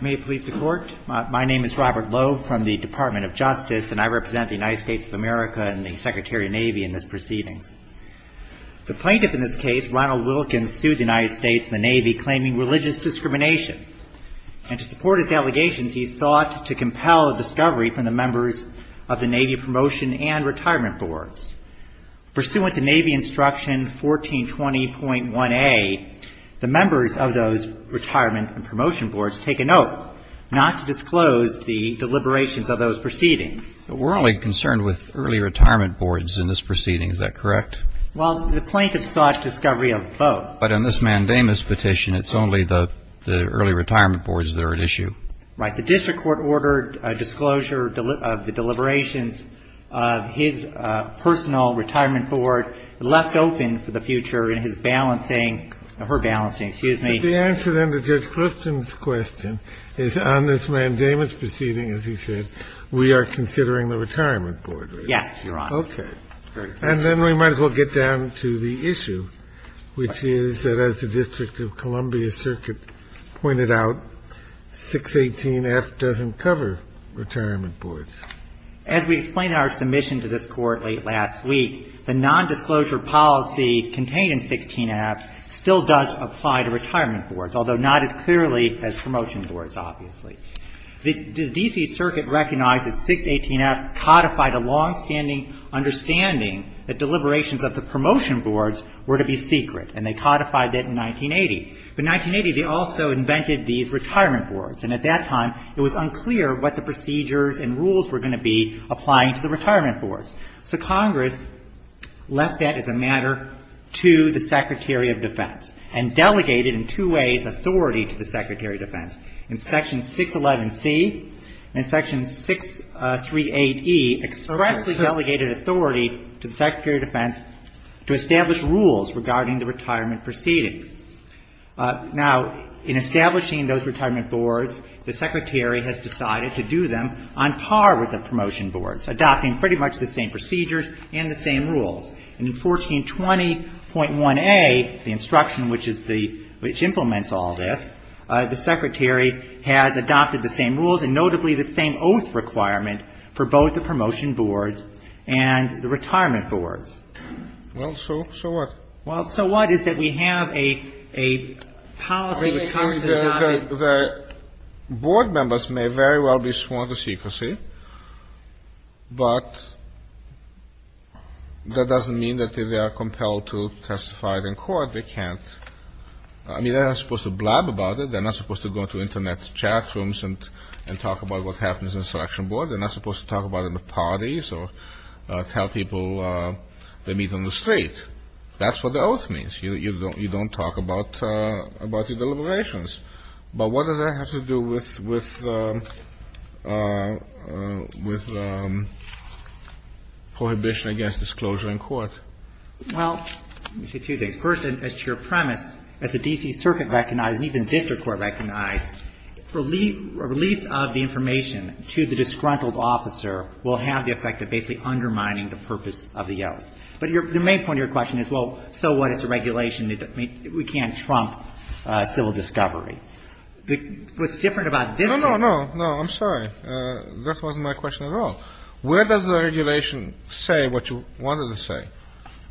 May it please the Court. My name is Robert Loeb from the Department of Justice, and I represent the United States of America and the Secretary of Navy in this proceedings. The plaintiff in this case, Ronald Wilkins, sued the United States and the Navy claiming religious discrimination. And to support his allegations, he sought to compel a discovery from the members of the Navy Promotion and Retirement Boards. Pursuant to Navy Instruction 1420.1a, the members of those Retirement and Promotion Boards take an oath not to disclose the deliberations of those proceedings. But we're only concerned with early retirement boards in this proceeding. Is that correct? Well, the plaintiff sought discovery of both. But in this mandamus petition, it's only the early retirement boards that are at issue. Right. The district court ordered a disclosure of the deliberations of his personal retirement board left open for the future in his balancing or her balancing, excuse me. But the answer then to Judge Clifton's question is on this mandamus proceeding, as he said, we are considering the retirement board. Yes, Your Honor. Okay. And then we might as well get down to the issue, which is that as the District of Columbia Circuit pointed out, 618F doesn't cover retirement boards. As we explained in our submission to this Court late last week, the nondisclosure policy contained in 618F still does apply to retirement boards, although not as clearly as promotion boards, obviously. The D.C. Circuit recognized that 618F codified a longstanding understanding that deliberations of the promotion boards were to be secret. And they codified that in 1980. But in 1980, they also invented these retirement boards. And at that time, it was unclear what the procedures and rules were going to be applying to the retirement boards. So Congress left that as a matter to the Secretary of Defense and delegated in two ways authority to the Secretary of Defense. In Section 611C and Section 638E, expressly delegated authority to the Secretary of Defense to establish rules regarding the retirement proceedings. Now, in establishing those retirement boards, the Secretary has decided to do them on par with the promotion boards, adopting pretty much the same procedures and the same rules. And in 1420.1a, the instruction which is the – which implements all this, the Secretary has adopted the same rules and notably the same oath requirement for both the promotion boards and the retirement boards. Kennedy. Well, so what? Well, so what is that we have a policy that Congress has adopted? The board members may very well be sworn to secrecy. But that doesn't mean that they are compelled to testify in court. They can't. I mean, they're not supposed to blab about it. They're not supposed to go into Internet chat rooms and talk about what happens in a selection board. They're not supposed to talk about it at parties or tell people they meet on the street. That's what the oath means. You don't talk about the deliberations. But what does that have to do with prohibition against disclosure in court? Well, let me say two things. First, as to your premise, as the D.C. Circuit recognized and even district court recognized, a release of the information to the disgruntled officer will have the effect of basically undermining the purpose of the oath. But the main point of your question is, well, so what? It's a regulation. We can't trump civil discovery. What's different about this one. No, no, no. No, I'm sorry. That wasn't my question at all. Where does the regulation say what you wanted to say?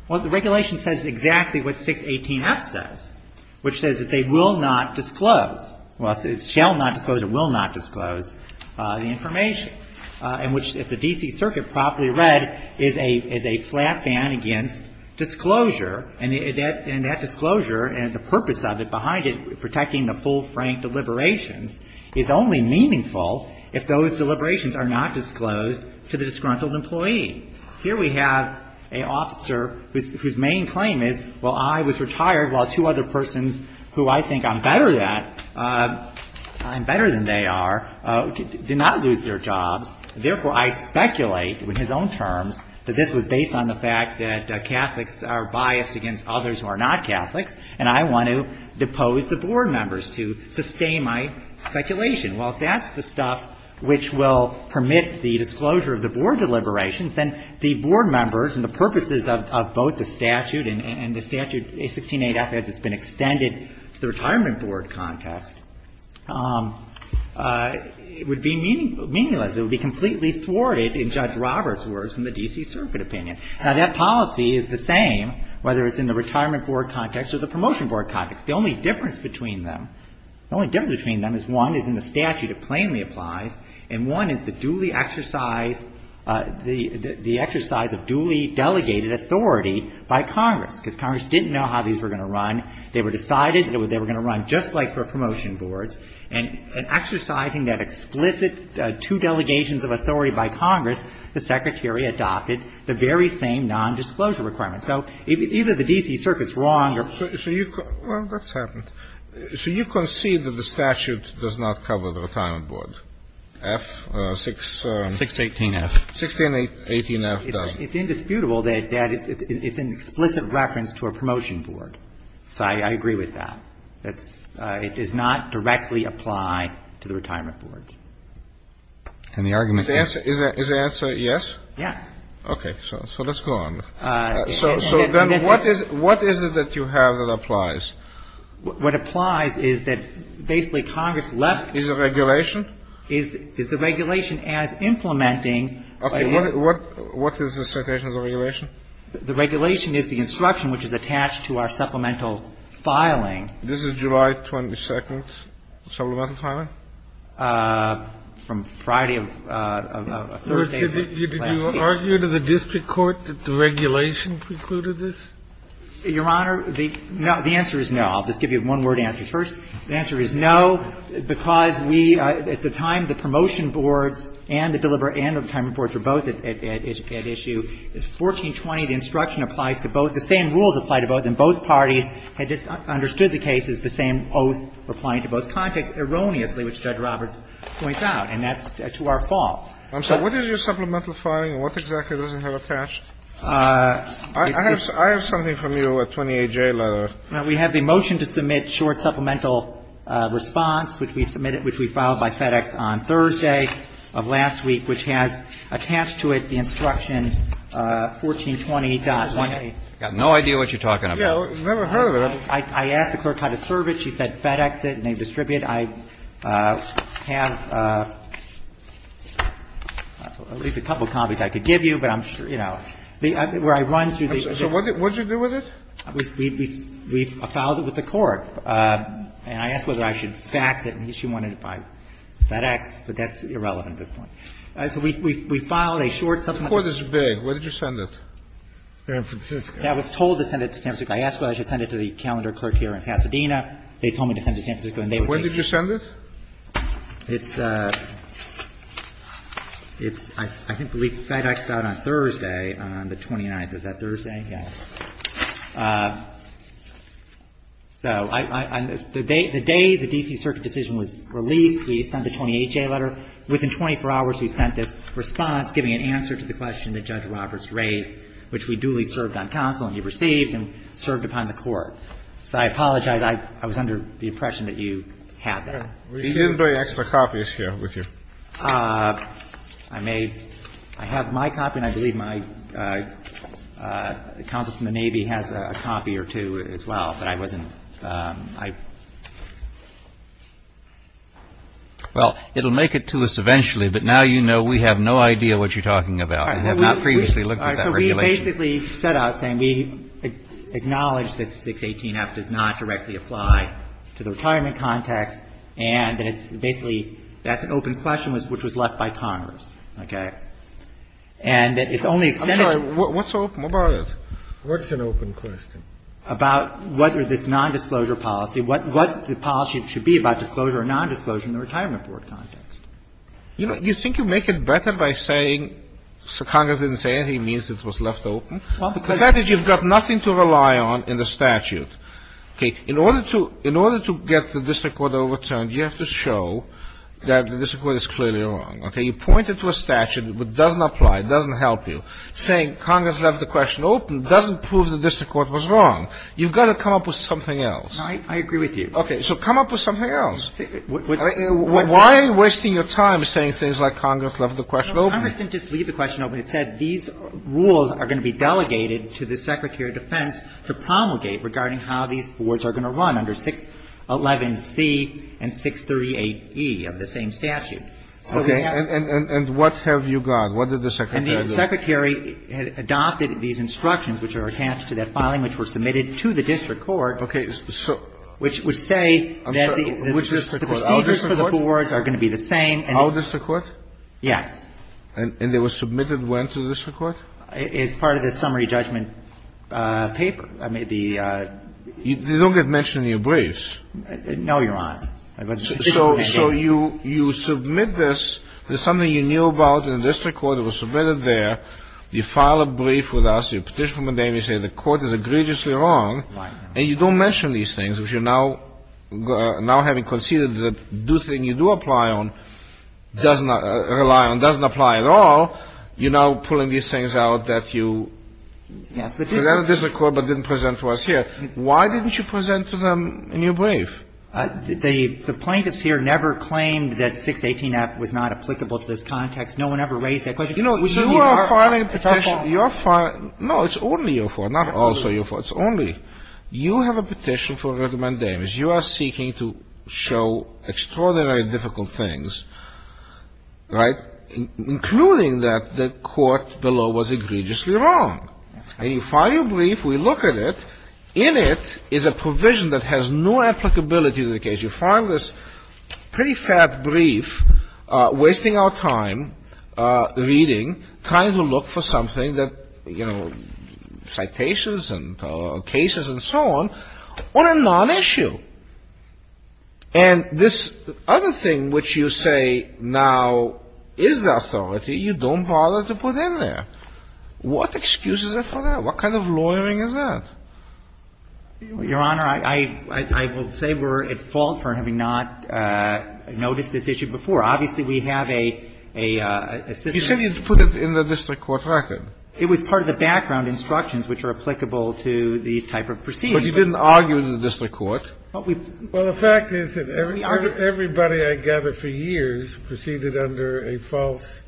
Well, the regulation says exactly what 618F says, which says that they will not disclose. Well, it shall not disclose or will not disclose the information. And which, as the D.C. Circuit properly read, is a flat ban against disclosure. And that disclosure and the purpose of it behind it, protecting the full frank deliberations, is only meaningful if those deliberations are not disclosed to the disgruntled employee. Here we have an officer whose main claim is, well, I was retired while two other persons who I think I'm better at, I'm better than they are, did not lose their jobs. Therefore, I speculate, in his own terms, that this was based on the fact that Catholics are biased against others who are not Catholics, and I want to depose the board members to sustain my speculation. Well, if that's the stuff which will permit the disclosure of the board deliberations, then the board members and the purposes of both the statute and the statute, 618F, as it's been extended to the retirement board context, would be meaningless. It would be completely thwarted in Judge Roberts' words in the D.C. Circuit opinion. Now, that policy is the same whether it's in the retirement board context or the promotion board context. The only difference between them, the only difference between them is one is in the statute. It plainly applies. And one is the duly exercised, the exercise of duly delegated authority by Congress, because Congress didn't know how these were going to run. They were decided that they were going to run just like for promotion boards. And exercising that explicit two delegations of authority by Congress, the Secretary adopted the very same nondisclosure requirement. So either the D.C. Circuit's wrong or ---- So you can ---- well, that's happened. So you concede that the statute does not cover the retirement board, F, 6 ---- 618F. 618F does. It's indisputable that it's an explicit reference to a promotion board. So I agree with that. It does not directly apply to the retirement boards. And the argument is ---- Is the answer yes? Yes. Okay. So let's go on. So then what is it that you have that applies? What applies is that basically Congress left ---- Is it regulation? Is the regulation as implementing ---- Okay. What is the citation of the regulation? The regulation is the instruction which is attached to our supplemental filing. This is July 22nd supplemental filing? From Friday of Thursday of last week. Did you argue to the district court that the regulation precluded this? Your Honor, the answer is no. I'll just give you one-word answers. First, the answer is no, because we at the time, the promotion boards and the deliberate and retirement boards are both at issue. It's 1420. The instruction applies to both. The same rules apply to both. And both parties had just understood the case as the same oath applying to both contexts, erroneously, which Judge Roberts points out. And that's to our fault. I'm sorry. What is your supplemental filing? And what exactly does it have attached? I have something from you, a 28J letter. We have the motion to submit short supplemental response, which we submitted which we filed by FedEx on Thursday of last week, which has attached to it the instruction 1420.1A. I've got no idea what you're talking about. Yeah, I've never heard of it. I asked the clerk how to serve it. She said FedEx it and they distribute it. I have at least a couple copies I could give you, but I'm sure, you know, where I run through these. So what did you do with it? We filed it with the court. And I asked whether I should fax it and she wanted it by FedEx, but that's irrelevant at this point. So we filed a short supplemental response. The court is big. Where did you send it? San Francisco. I was told to send it to San Francisco. I asked whether I should send it to the calendar clerk here in Pasadena. They told me to send it to San Francisco and they would be. When did you send it? It's a – it's – I think we leaked FedEx out on Thursday on the 29th. Is that Thursday? So I – the day the D.C. Circuit decision was released, we sent a 28-J letter. Within 24 hours, we sent this response giving an answer to the question that Judge Roberts raised, which we duly served on counsel and he received and served upon the court. So I apologize. I was under the impression that you had that. We didn't bring extra copies here with you. I may – I have my copy and I believe my counsel from the Navy has a copy or two as well, but I wasn't – I – Well, it'll make it to us eventually, but now you know we have no idea what you're talking about. We have not previously looked at that regulation. All right. So we basically set out saying we acknowledge that 618-F does not directly apply to the retirement context and that it's basically – that's an open question which was left by Congress, okay? And that it's only extended – I'm sorry. What's open? What about it? What's an open question? About whether this nondisclosure policy – what the policy should be about disclosure or nondisclosure in the retirement board context. You think you make it better by saying – so Congress didn't say anything, it means it was left open? Well, because – That is, you've got nothing to rely on in the statute. Okay. In order to – in order to get the district court overturned, you have to show that the district court is clearly wrong, okay? You point it to a statute which doesn't apply, doesn't help you, saying Congress left the question open doesn't prove the district court was wrong. You've got to come up with something else. No, I agree with you. Okay. So come up with something else. Why are you wasting your time saying things like Congress left the question open? Well, Congress didn't just leave the question open. It said these rules are going to be delegated to the Secretary of Defense to promulgate regarding how these boards are going to run under 611C and 638E of the same statute. Okay. And what have you got? What did the Secretary do? And the Secretary adopted these instructions, which are attached to that filing, which were submitted to the district court. Okay. So – Which would say that the procedures for the boards are going to be the same. Our district court? Yes. And they were submitted when to the district court? It's part of the summary judgment paper. I mean, the – They don't get mentioned in your briefs. No, Your Honor. So you submit this. There's something you knew about in the district court. It was submitted there. You file a brief with us. You petition for a name. You say the court is egregiously wrong. Right. And you don't mention these things, which you're now – now having conceded that the thing you do apply on does not – rely on doesn't apply at all. You're now pulling these things out that you – Yes. That the district court didn't present to us here. Why didn't you present to them in your brief? The plaintiffs here never claimed that 618-F was not applicable to this context. No one ever raised that question. You know, you are filing a petition. It's our fault. No, it's only your fault. Not also your fault. It's only – you have a petition for rudiment damage. You are seeking to show extraordinarily difficult things. Right? Including that the court below was egregiously wrong. And you file your brief. We look at it. In it is a provision that has no applicability to the case. You file this pretty fat brief, wasting our time reading, trying to look for something that, you know, citations and cases and so on, on a non-issue. And this other thing which you say now is the authority, you don't bother to put in there. What excuse is there for that? What kind of lawyering is that? Your Honor, I will say we're at fault for having not noticed this issue before. Obviously, we have a – You said you put it in the district court record. It was part of the background instructions which are applicable to these type of proceedings. But you didn't argue with the district court. Well, the fact is that everybody I gather for years proceeded under a false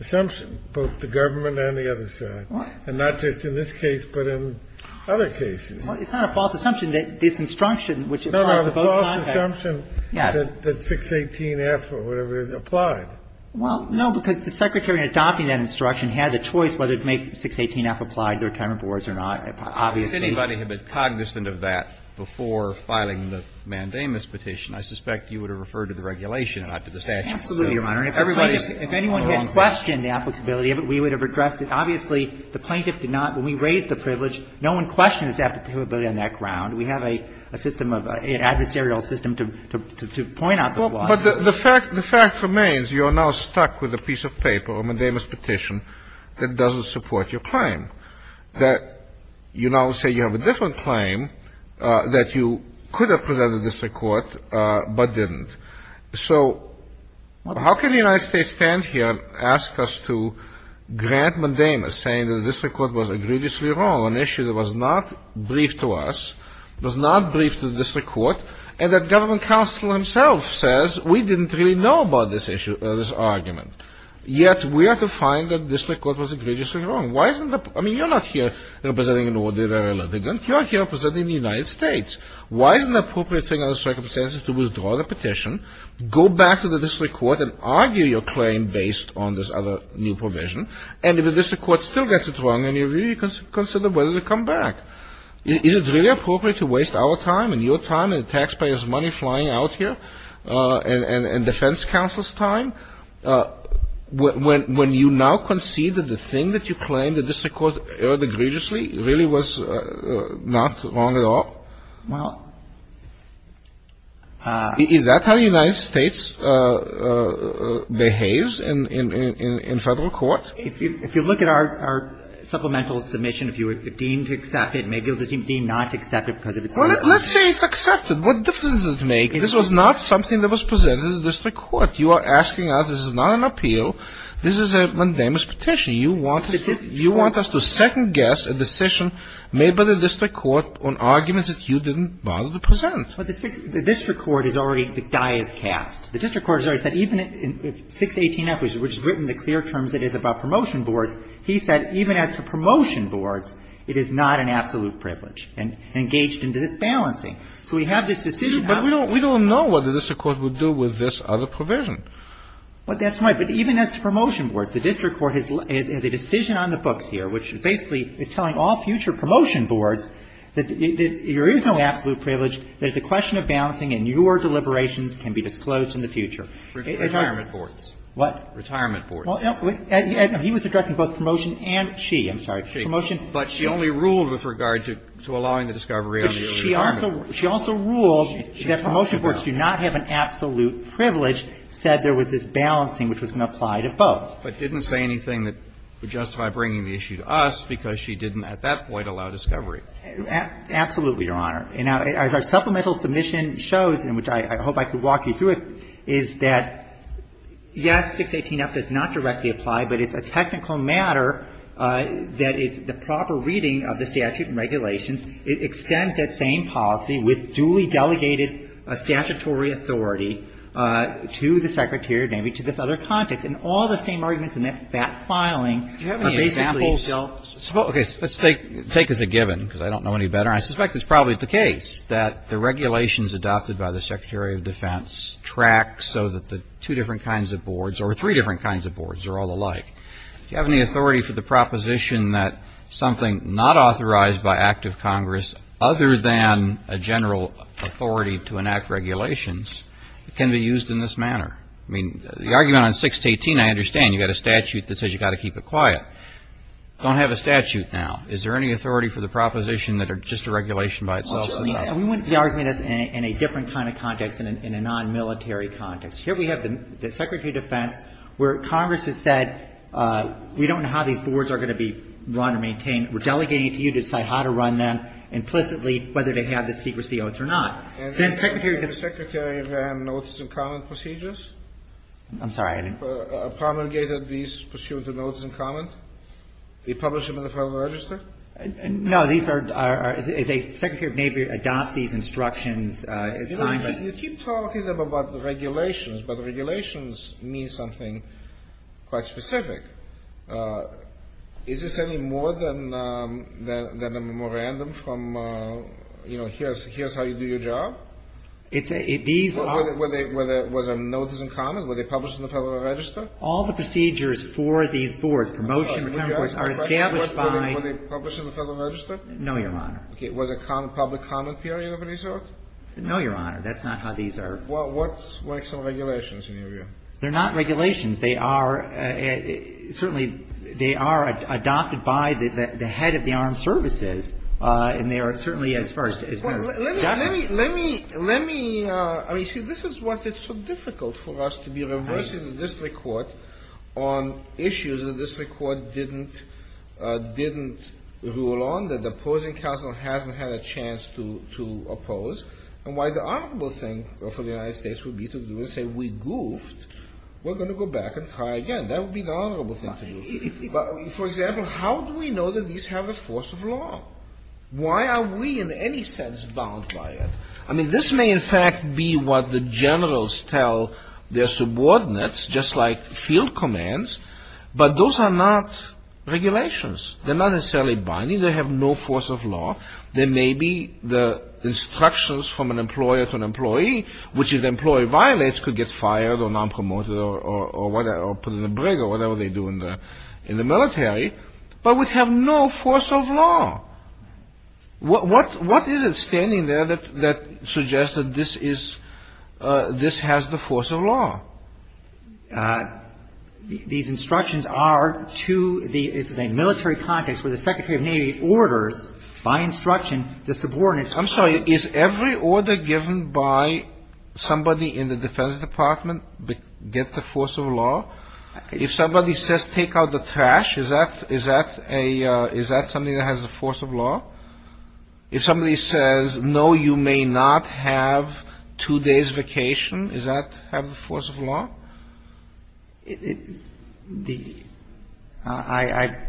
assumption, both the government and the other side. And not just in this case, but in other cases. Well, it's not a false assumption that this instruction, which applies to both contexts. No, no, a false assumption that 618F or whatever is applied. Well, no, because the Secretary in adopting that instruction had a choice whether to make 618F applied to the retirement boards or not, obviously. But if anybody had been cognizant of that before filing the mandamus petition, I suspect you would have referred to the regulation and not to the statute. Absolutely, Your Honor. If anybody had questioned the applicability of it, we would have addressed it. Obviously, the plaintiff did not. When we raised the privilege, no one questioned its applicability on that ground. We have a system of – an adversarial system to point out the flaws. But the fact remains you are now stuck with a piece of paper, a mandamus petition, that doesn't support your claim. You now say you have a different claim, that you could have presented this to court, but didn't. So how can the United States stand here and ask us to grant mandamus, saying that this record was egregiously wrong, an issue that was not briefed to us, was not briefed to the district court, and that government counsel himself says we didn't really know about this issue, this argument. Yet we are to find that this record was egregiously wrong. Why isn't the – I mean, you're not here representing an ordinary litigant. You are here representing the United States. Why isn't the appropriate thing under the circumstances to withdraw the petition, go back to the district court and argue your claim based on this other new provision, and if the district court still gets it wrong, then you really consider whether to come back. Is it really appropriate to waste our time and your time and the taxpayers' money flying out here, and defense counsel's time, when you now concede that the thing that you claim, that this record erred egregiously, really was not wrong at all? Is that how the United States behaves in Federal court? If you look at our supplemental submission, if you were deemed to accept it, maybe you'll be deemed not to accept it because of its legitimacy. Well, let's say it's accepted. What difference does it make? This was not something that was presented to the district court. You are asking us this is not an appeal. This is a mandamus petition. You want us to second-guess a decision made by the district court on arguments that you didn't bother to present. But the district court is already, the guy is cast. The district court has already said even if 618F, which has written the clear terms it is about promotion boards, he said even as to promotion boards, it is not an absolute privilege and engaged into this balancing. So we have this decision. But we don't know what the district court would do with this other provision. Well, that's right. But even as to promotion boards, the district court has a decision on the books here, which basically is telling all future promotion boards that there is no absolute privilege, there is a question of balancing, and your deliberations can be disclosed in the future. It has to be. Retirement boards. What? Retirement boards. Well, he was addressing both promotion and she. I'm sorry. She. But she only ruled with regard to allowing the discovery of the retirement. She also ruled that promotion boards do not have an absolute privilege, said there was this balancing which was going to apply to both. But didn't say anything that would justify bringing the issue to us because she didn't at that point allow discovery. Absolutely, Your Honor. And as our supplemental submission shows, and which I hope I could walk you through it, is that yes, 618F does not directly apply, but it's a technical matter that it's of the statute and regulations, it extends that same policy with duly delegated statutory authority to the Secretary of Navy to this other context. And all the same arguments in that filing are basically still. Do you have any examples? Okay. Let's take as a given, because I don't know any better. I suspect it's probably the case that the regulations adopted by the Secretary of Defense track so that the two different kinds of boards or three different kinds of boards are all alike. Do you have any authority for the proposition that something not authorized by active Congress other than a general authority to enact regulations can be used in this manner? I mean, the argument on 618, I understand. You've got a statute that says you've got to keep it quiet. Don't have a statute now. Is there any authority for the proposition that it's just a regulation by itself? We wouldn't be arguing this in a different kind of context than in a non-military context. Here we have the Secretary of Defense where Congress has said we don't know how these boards are going to be run or maintained. We're delegating it to you to decide how to run them implicitly, whether they have the secrecy oath or not. Then the Secretary of the National Guard. The Secretary ran notice and comment procedures? I'm sorry. Promulgated these pursuant to notice and comment? He published them in the Federal Register? No. These are as a Secretary of Navy adopts these instructions as Congress. You keep talking to them about the regulations, but regulations mean something quite specific. Is this any more than a memorandum from, you know, here's how you do your job? It's a – these are all – Were they – was there notice and comment? Were they published in the Federal Register? All the procedures for these boards, promotion, are established by – Were they published in the Federal Register? No, Your Honor. Was it public comment period of resort? No, Your Honor. That's not how these are – Well, what's – what's the regulations in your view? They're not regulations. They are – certainly they are adopted by the head of the armed services, and they are certainly as far as – Let me – let me – let me – I mean, see, this is what is so difficult for us to be reversing this record on issues that this record didn't – didn't rule on, that the opposing counsel hasn't had a chance to oppose. And why the honorable thing for the United States would be to do is say, we goofed. We're going to go back and try again. That would be the honorable thing to do. But, for example, how do we know that these have a force of law? Why are we in any sense bound by it? I mean, this may in fact be what the generals tell their subordinates, just like field commands, but those are not regulations. They're not necessarily binding. They have no force of law. There may be the instructions from an employer to an employee, which if the employee violates, could get fired or nonpromoted or whatever, or put in the brig, or whatever they do in the – in the military, but would have no force of law. What – what – what is it standing there that – that suggests that this is – this has the force of law? These instructions are to the – it's a military context where the secretary of Navy orders, by instruction, the subordinates. I'm sorry. Is every order given by somebody in the Defense Department get the force of law? If somebody says take out the trash, is that – is that a – is that something that has the force of law? If somebody says, no, you may not have two days' vacation, does that have the force of law? The – I –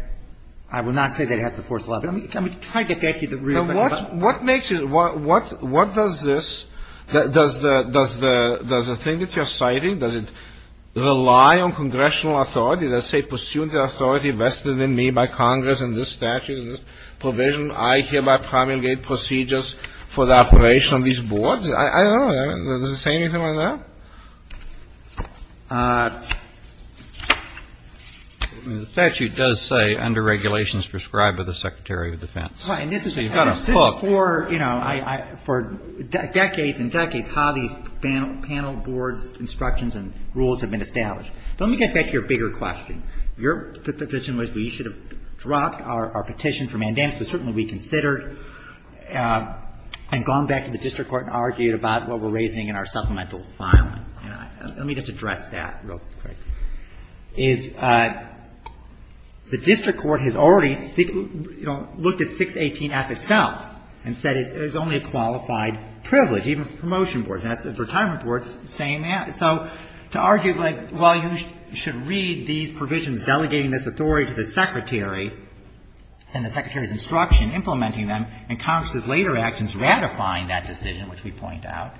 I would not say that it has the force of law, but let me try to get you the real question. What makes it – what – what does this – does the – does the thing that you're citing, does it rely on congressional authority, let's say, pursuant to authority vested in me by Congress in this statute and this provision, I hereby promulgate procedures for the operation of these boards? I don't know. Does it say anything on that? The statute does say under regulations prescribed by the Secretary of Defense. So you've got a book. Right. And this is – this is for, you know, I – I – for decades and decades how these panel – panel boards' instructions and rules have been established. But let me get back to your bigger question. Your position was we should have dropped our – our petition for mandamus, but certainly we considered and gone back to the district court and argued about what we're raising in our supplemental filing. And let me just address that real quick, is the district court has already, you know, looked at 618F itself and said it was only a qualified privilege, even for promotion boards. And as for retirement boards, same as. So to argue like, well, you should read these provisions delegating this authority to the Secretary and the Secretary's instruction implementing them and Congress's ratifying that decision, which we point out,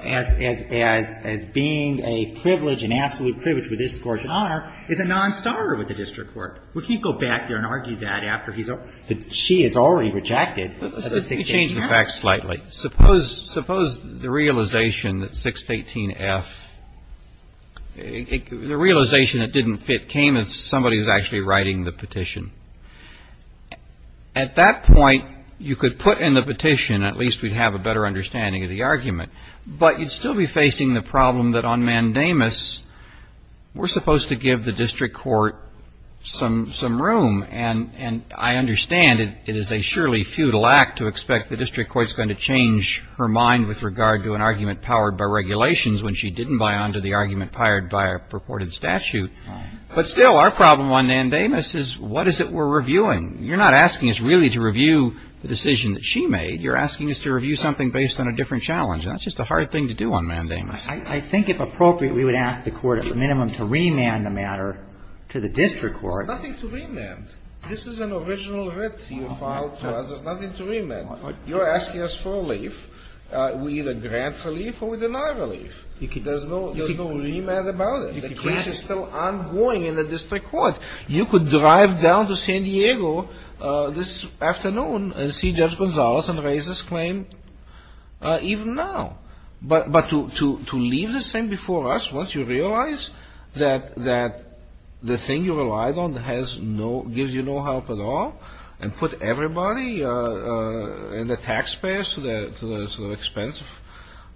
as – as – as being a privilege, an absolute privilege with this court's honor, is a nonstarter with the district court. We can't go back there and argue that after he's – she has already rejected a 618F. Let me change the facts slightly. Suppose – suppose the realization that 618F – the realization it didn't fit came as somebody was actually writing the petition. At that point, you could put in the petition, at least we'd have a better understanding of the argument. But you'd still be facing the problem that on mandamus, we're supposed to give the district court some – some room. And – and I understand it is a surely futile act to expect the district court's going to change her mind with regard to an argument powered by regulations when she didn't buy onto the argument powered by a purported statute. But still, our problem on mandamus is what is it we're reviewing? You're not asking us really to review the decision that she made. You're asking us to review something based on a different challenge. And that's just a hard thing to do on mandamus. I – I think if appropriate, we would ask the court at the minimum to remand the matter to the district court. There's nothing to remand. This is an original writ you filed to us. There's nothing to remand. You're asking us for relief. We either grant relief or we deny relief. There's no – there's no remand about it. The case is still ongoing in the district court. You could drive down to San Diego this afternoon and see Judge Gonzalez and raise this claim even now. But – but to – to leave this thing before us once you realize that – that the thing you relied on has no – gives you no help at all and put everybody and the taxpayers to the – to the expense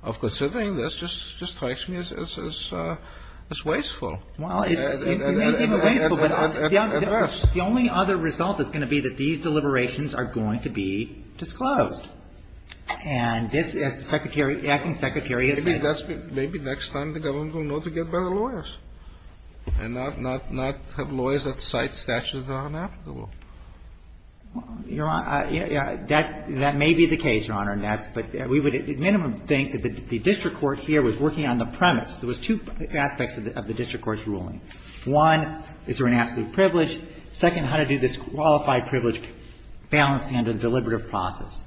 of considering this just – just strikes me as – as wasteful. Well, it may be wasteful, but the only other result is going to be that these deliberations are going to be disclosed. And this, as the Secretary – the Acting Secretary has said – Maybe that's – maybe next time the government will know to get better lawyers and not – not have lawyers that cite statutes that are inapplicable. Your Honor, that – that may be the case, Your Honor, and that's – but we would at minimum think that the district court here was working on the premise. There was two aspects of the district court's ruling. One, is there an absolute privilege? Second, how to do this qualified privilege balancing under the deliberative process.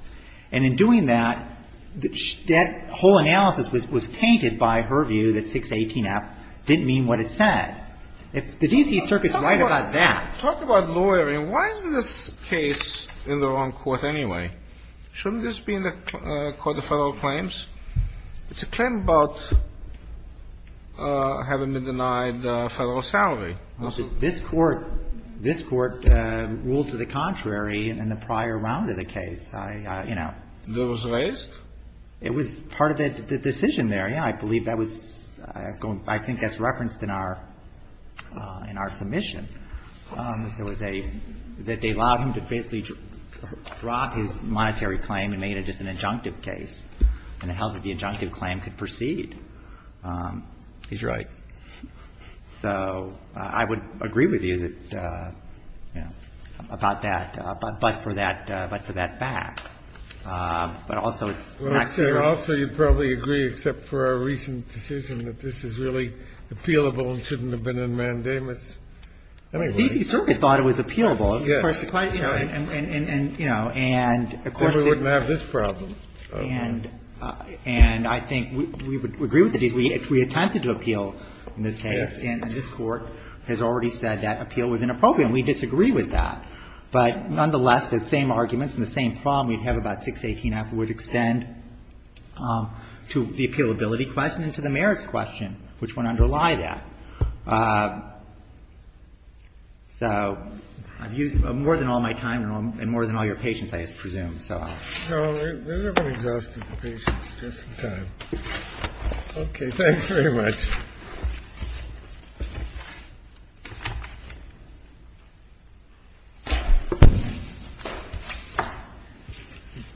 And in doing that, that whole analysis was – was tainted by her view that 618F didn't mean what it said. If the D.C. Circuit's right about that – Why is this case in the wrong court anyway? Shouldn't this be in the Court of Federal Claims? It's a claim about having been denied federal salary. This Court – this Court ruled to the contrary in the prior round of the case. I – you know. It was raised? It was part of the decision there, yes. I believe that was – I think that's referenced in our – in our submission. There was a – that they allowed him to basically drop his monetary claim and made it just an injunctive case, and held that the injunctive claim could proceed. He's right. So I would agree with you that, you know, about that, but for that – but for that fact. But also it's not true. Well, I'd say also you'd probably agree, except for our recent decision, that this case is really appealable and shouldn't have been in mandamus. I mean, really. The D.C. Circuit thought it was appealable. Yes. And, you know, and, of course, they – But we wouldn't have this problem. And I think we would agree with the D.C. Circuit if we attempted to appeal in this case. Yes. And this Court has already said that appeal was inappropriate, and we disagree with that. But nonetheless, the same arguments and the same problem we'd have about 618-F would extend to the appealability question and to the merits question, which would underlie that. So I've used more than all my time and more than all your patience, I presume. So I'll stop. No. We're never exhausted for patience. Just the time. Okay. Thanks very much.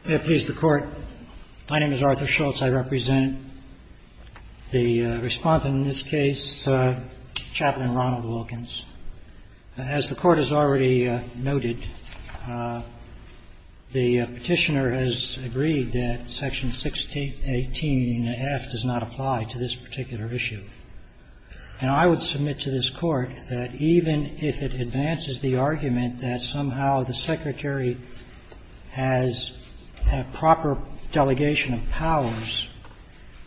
May it please the Court. My name is Arthur Schultz. I represent the respondent in this case, Chaplain Ronald Wilkins. As the Court has already noted, the Petitioner has agreed that Section 618-F does not apply to this particular issue. And I would submit to this Court that even if it advances the argument that somehow the Secretary has a proper delegation of powers,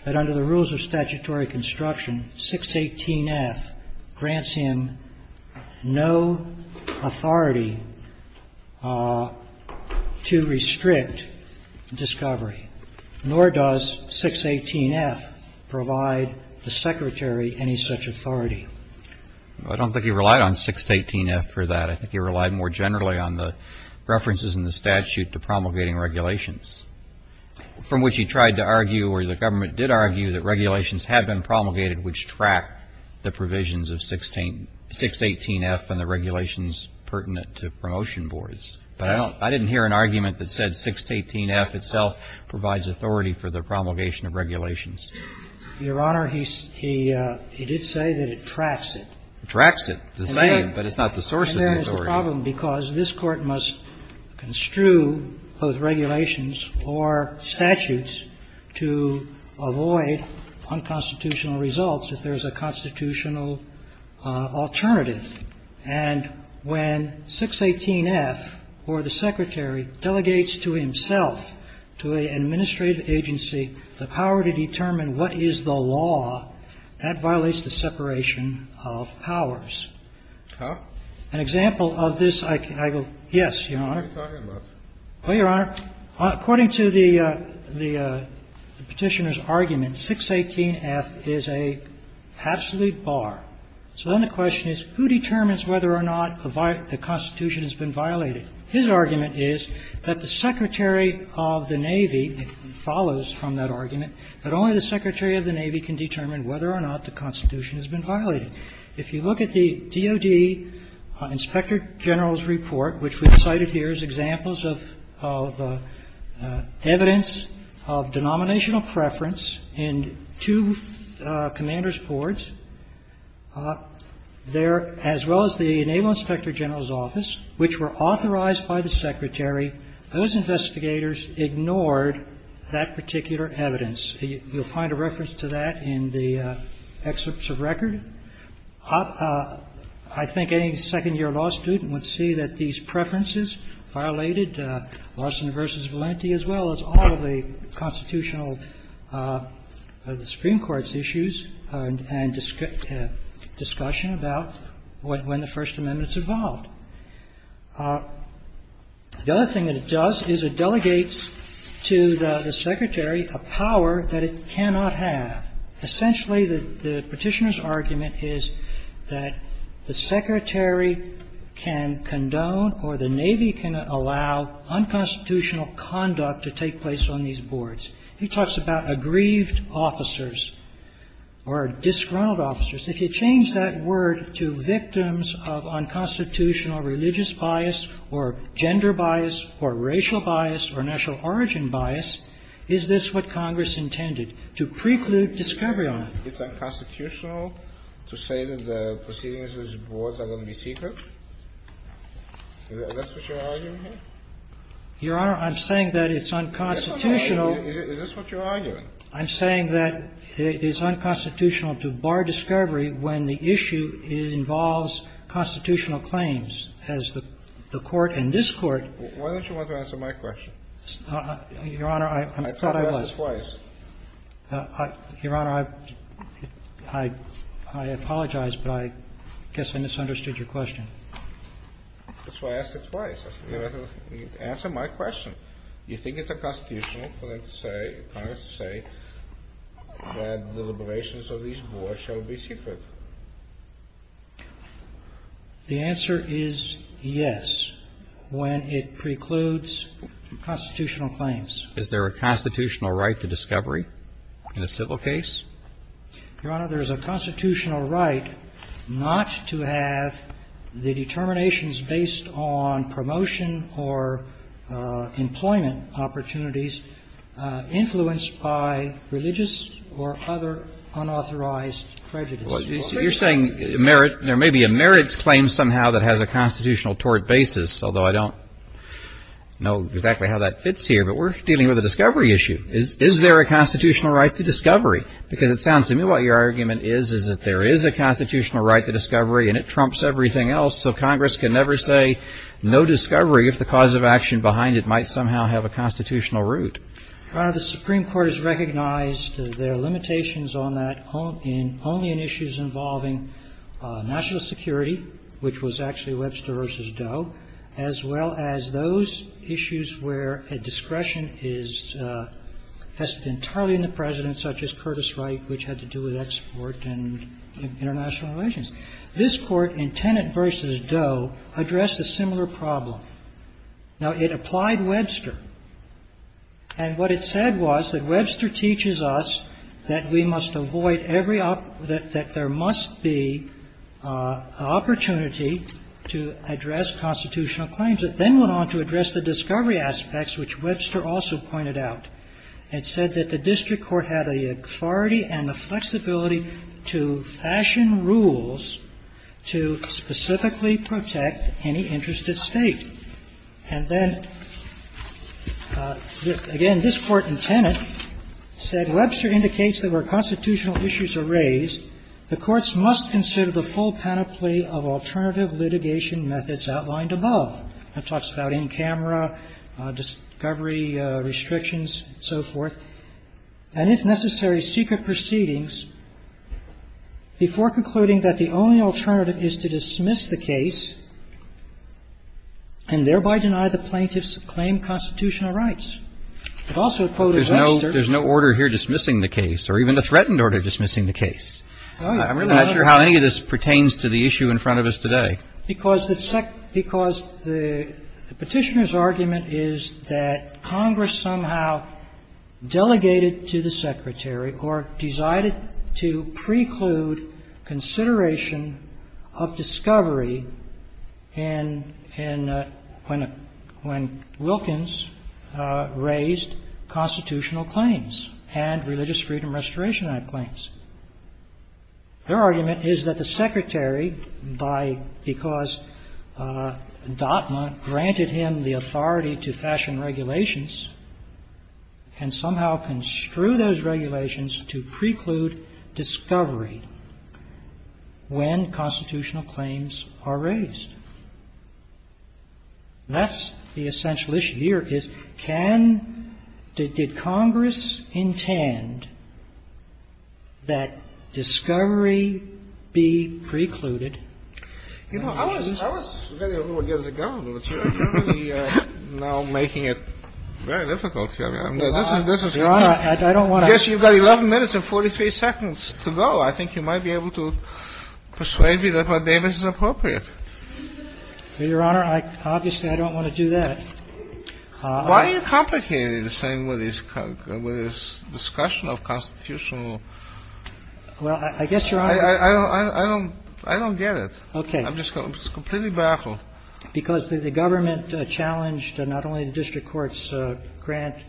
that under the rules of statutory construction, 618-F grants him no authority to restrict discovery, nor does 618-F provide the Secretary any such authority. I don't think he relied on 618-F for that. I think he relied more generally on the references in the statute to promulgating regulations, from which he tried to argue or the government did argue that regulations have been promulgated which track the provisions of 618-F and the regulations pertinent to promotion boards. But I didn't hear an argument that said 618-F itself provides authority for the promulgation of regulations. Your Honor, he did say that it tracks it. It tracks it. It's the same, but it's not the source of authority. And that is the problem, because this Court must construe both regulations or statutes to avoid unconstitutional results if there is a constitutional alternative. And when 618-F, or the Secretary, delegates to himself, to an administrative agency, the power to determine what is the law, that violates the separation of powers. An example of this, I will yes, Your Honor. Well, Your Honor, according to the Petitioner's argument, 618-F is an absolute bar. So then the question is who determines whether or not the Constitution has been violated? His argument is that the Secretary of the Navy follows from that argument that only the Secretary of the Navy can determine whether or not the Constitution has been violated. If you look at the DOD Inspector General's report, which we've cited here as examples of evidence of denominational preference in two commander's boards, there, as well as the Naval Inspector General's office, which were authorized by the Secretary, those investigators ignored that particular evidence. You'll find a reference to that in the excerpts of record. I think any second-year law student would see that these preferences violated Lawson v. Valenti, as well as all of the constitutional, the Supreme Court's issues and discussion about when the First Amendment's evolved. The other thing that it does is it delegates to the Secretary a power that it cannot have. Essentially, the Petitioner's argument is that the Secretary can condone or the Navy can allow unconstitutional conduct to take place on these boards. He talks about aggrieved officers or disgruntled officers. If you change that word to victims of unconstitutional religious bias or gender bias or racial bias or national origin bias, is this what Congress intended, to preclude discovery on? It's unconstitutional to say that the proceedings of these boards are going to be secret? Is that what you're arguing here? Your Honor, I'm saying that it's unconstitutional. Is this what you're arguing? I'm saying that it is unconstitutional to bar discovery when the issue involves constitutional claims, as the Court and this Court. Why don't you want to answer my question? Your Honor, I thought I was. I thought you asked it twice. Your Honor, I apologize, but I guess I misunderstood your question. That's why I asked it twice. Answer my question. You think it's unconstitutional for them to say, Congress to say, that the deliberations of these boards shall be secret? The answer is yes, when it precludes constitutional claims. Is there a constitutional right to discovery in a civil case? Your Honor, there is a constitutional right not to have the determinations based on promotion or employment opportunities influenced by religious or other unauthorized prejudice. You're saying there may be a merits claim somehow that has a constitutional tort basis, although I don't know exactly how that fits here. But we're dealing with a discovery issue. Is there a constitutional right to discovery? Because it sounds to me what your argument is, is that there is a constitutional right to discovery and it trumps everything else. So Congress can never say no discovery if the cause of action behind it might somehow have a constitutional root. Your Honor, the Supreme Court has recognized there are limitations on that only in issues involving national security, which was actually Webster v. Doe, as well as those issues where a discretion is entirely in the President, such as Curtis Wright, which had to do with export and international relations. This Court in Tenet v. Doe addressed a similar problem. Now, it applied Webster. And what it said was that Webster teaches us that we must avoid every other – that there must be an opportunity to address constitutional claims. It then went on to address the discovery aspects, which Webster also pointed out. It said that the district court had the authority and the flexibility to fashion rules to specifically protect any interested State. And then, again, this Court in Tenet said Webster indicates that where constitutional issues are raised, the courts must consider the full panoply of alternative litigation methods outlined above. And it talks about in-camera discovery restrictions and so forth, and, if necessary, secret proceedings before concluding that the only alternative is to dismiss the case and thereby deny the plaintiffs claim constitutional rights. It also quoted Webster. But there's no order here dismissing the case or even a threatened order dismissing the case. I'm really not sure how any of this pertains to the issue in front of us today. Because the Petitioner's argument is that Congress somehow delegated to the Secretary or decided to preclude consideration of discovery in – when Wilkins raised constitutional claims and Religious Freedom Restoration Act claims. Their argument is that the Secretary, by – because DOTMA granted him the authority to fashion regulations, can somehow construe those regulations to preclude discovery when constitutional claims are raised. That's the essential issue. So the question here is, can – did Congress intend that discovery be precluded? You know, I was – I was very worried against the government. You're really now making it very difficult here. Your Honor, I don't want to – I guess you've got 11 minutes and 43 seconds to go. I think you might be able to persuade me that what Davis is appropriate. Your Honor, obviously, I don't want to do that. Why are you complicating the same with his discussion of constitutional? Well, I guess, Your Honor – I don't get it. Okay. I'm just completely baffled. Because the government challenged not only the district court's grant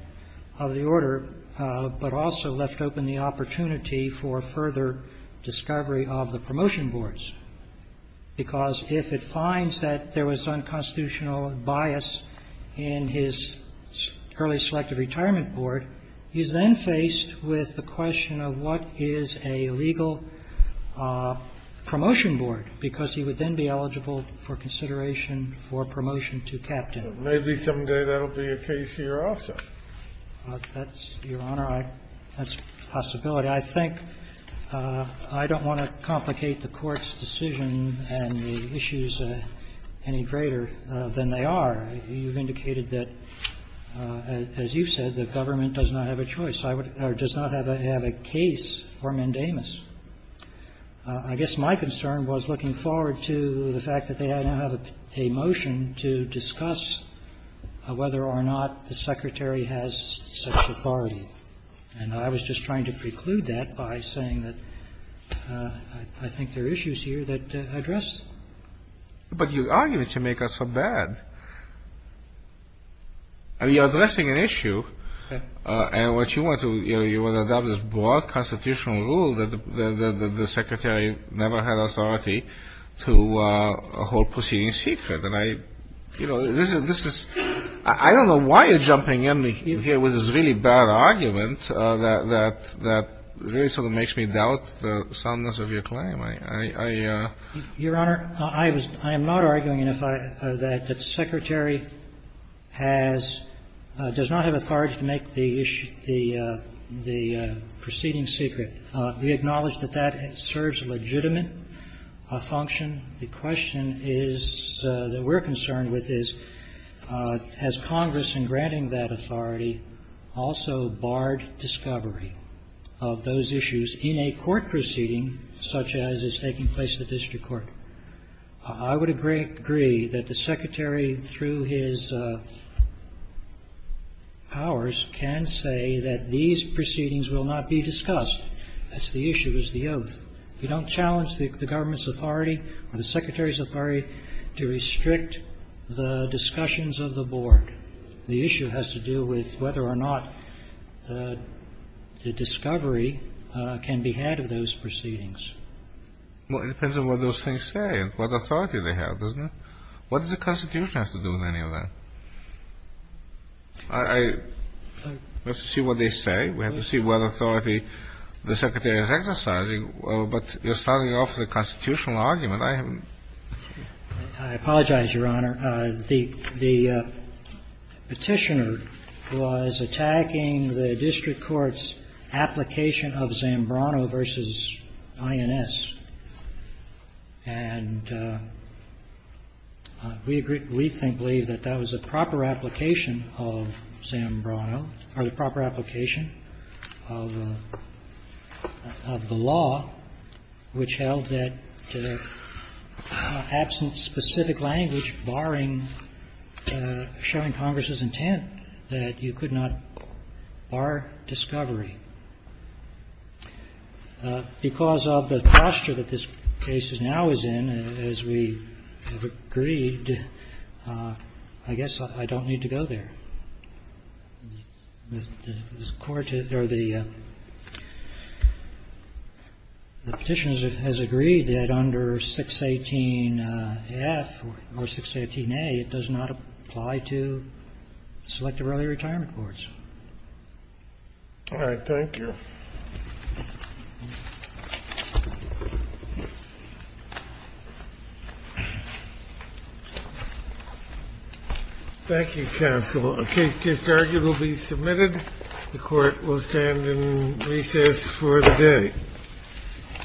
of the order, but also left open the opportunity for further discovery of the promotion boards. Because if it finds that there was unconstitutional bias in his early selective retirement board, he's then faced with the question of what is a legal promotion board, because he would then be eligible for consideration for promotion to captain. Maybe someday that will be a case here also. That's – Your Honor, I – that's a possibility. But I think I don't want to complicate the Court's decision and the issues any greater than they are. You've indicated that, as you've said, the government does not have a choice or does not have a case for mandamus. I guess my concern was looking forward to the fact that they now have a motion to discuss whether or not the Secretary has such authority. And I was just trying to preclude that by saying that I think there are issues here that address. But you're arguing to make us look bad. You're addressing an issue, and what you want to – you want to adopt this broad constitutional rule that the Secretary never had authority to hold proceedings secret. And I – you know, this is – I don't know why you're jumping in here with this really bad argument that really sort of makes me doubt the soundness of your claim. I – I – Your Honor, I was – I am not arguing that if I – that the Secretary has – does not have authority to make the issue – the proceeding secret. We acknowledge that that serves a legitimate function. The question is – that we're concerned with is, has Congress, in granting that authority, also barred discovery of those issues in a court proceeding such as is taking place at the district court? I would agree that the Secretary, through his powers, can say that these proceedings will not be discussed. That's the issue. It's the oath. You don't challenge the government's authority or the Secretary's authority to restrict the discussions of the board. The issue has to do with whether or not the discovery can be had of those proceedings. Well, it depends on what those things say and what authority they have, doesn't it? What does the Constitution have to do with any of that? I – we have to see what they say. We have to see what authority the Secretary is exercising. But you're starting off with a constitutional argument. I haven't – I apologize, Your Honor. The Petitioner was attacking the district court's application of Zambrano v. INS. And we believe that that was a proper application of Zambrano, or the proper application of the law, which held that absent specific language barring showing Congress's intent that you could not bar discovery. Because of the posture that this case now is in, as we have agreed, I guess I don't need to go there. The court – or the Petitioner has agreed that under 618F or 618A, it does not apply to selective early retirement courts. All right. Thank you. Thank you, counsel. A case just argued will be submitted. The court will stand in recess for the day.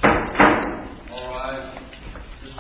All rise. This court is in session. Stand adjourned. Thank you.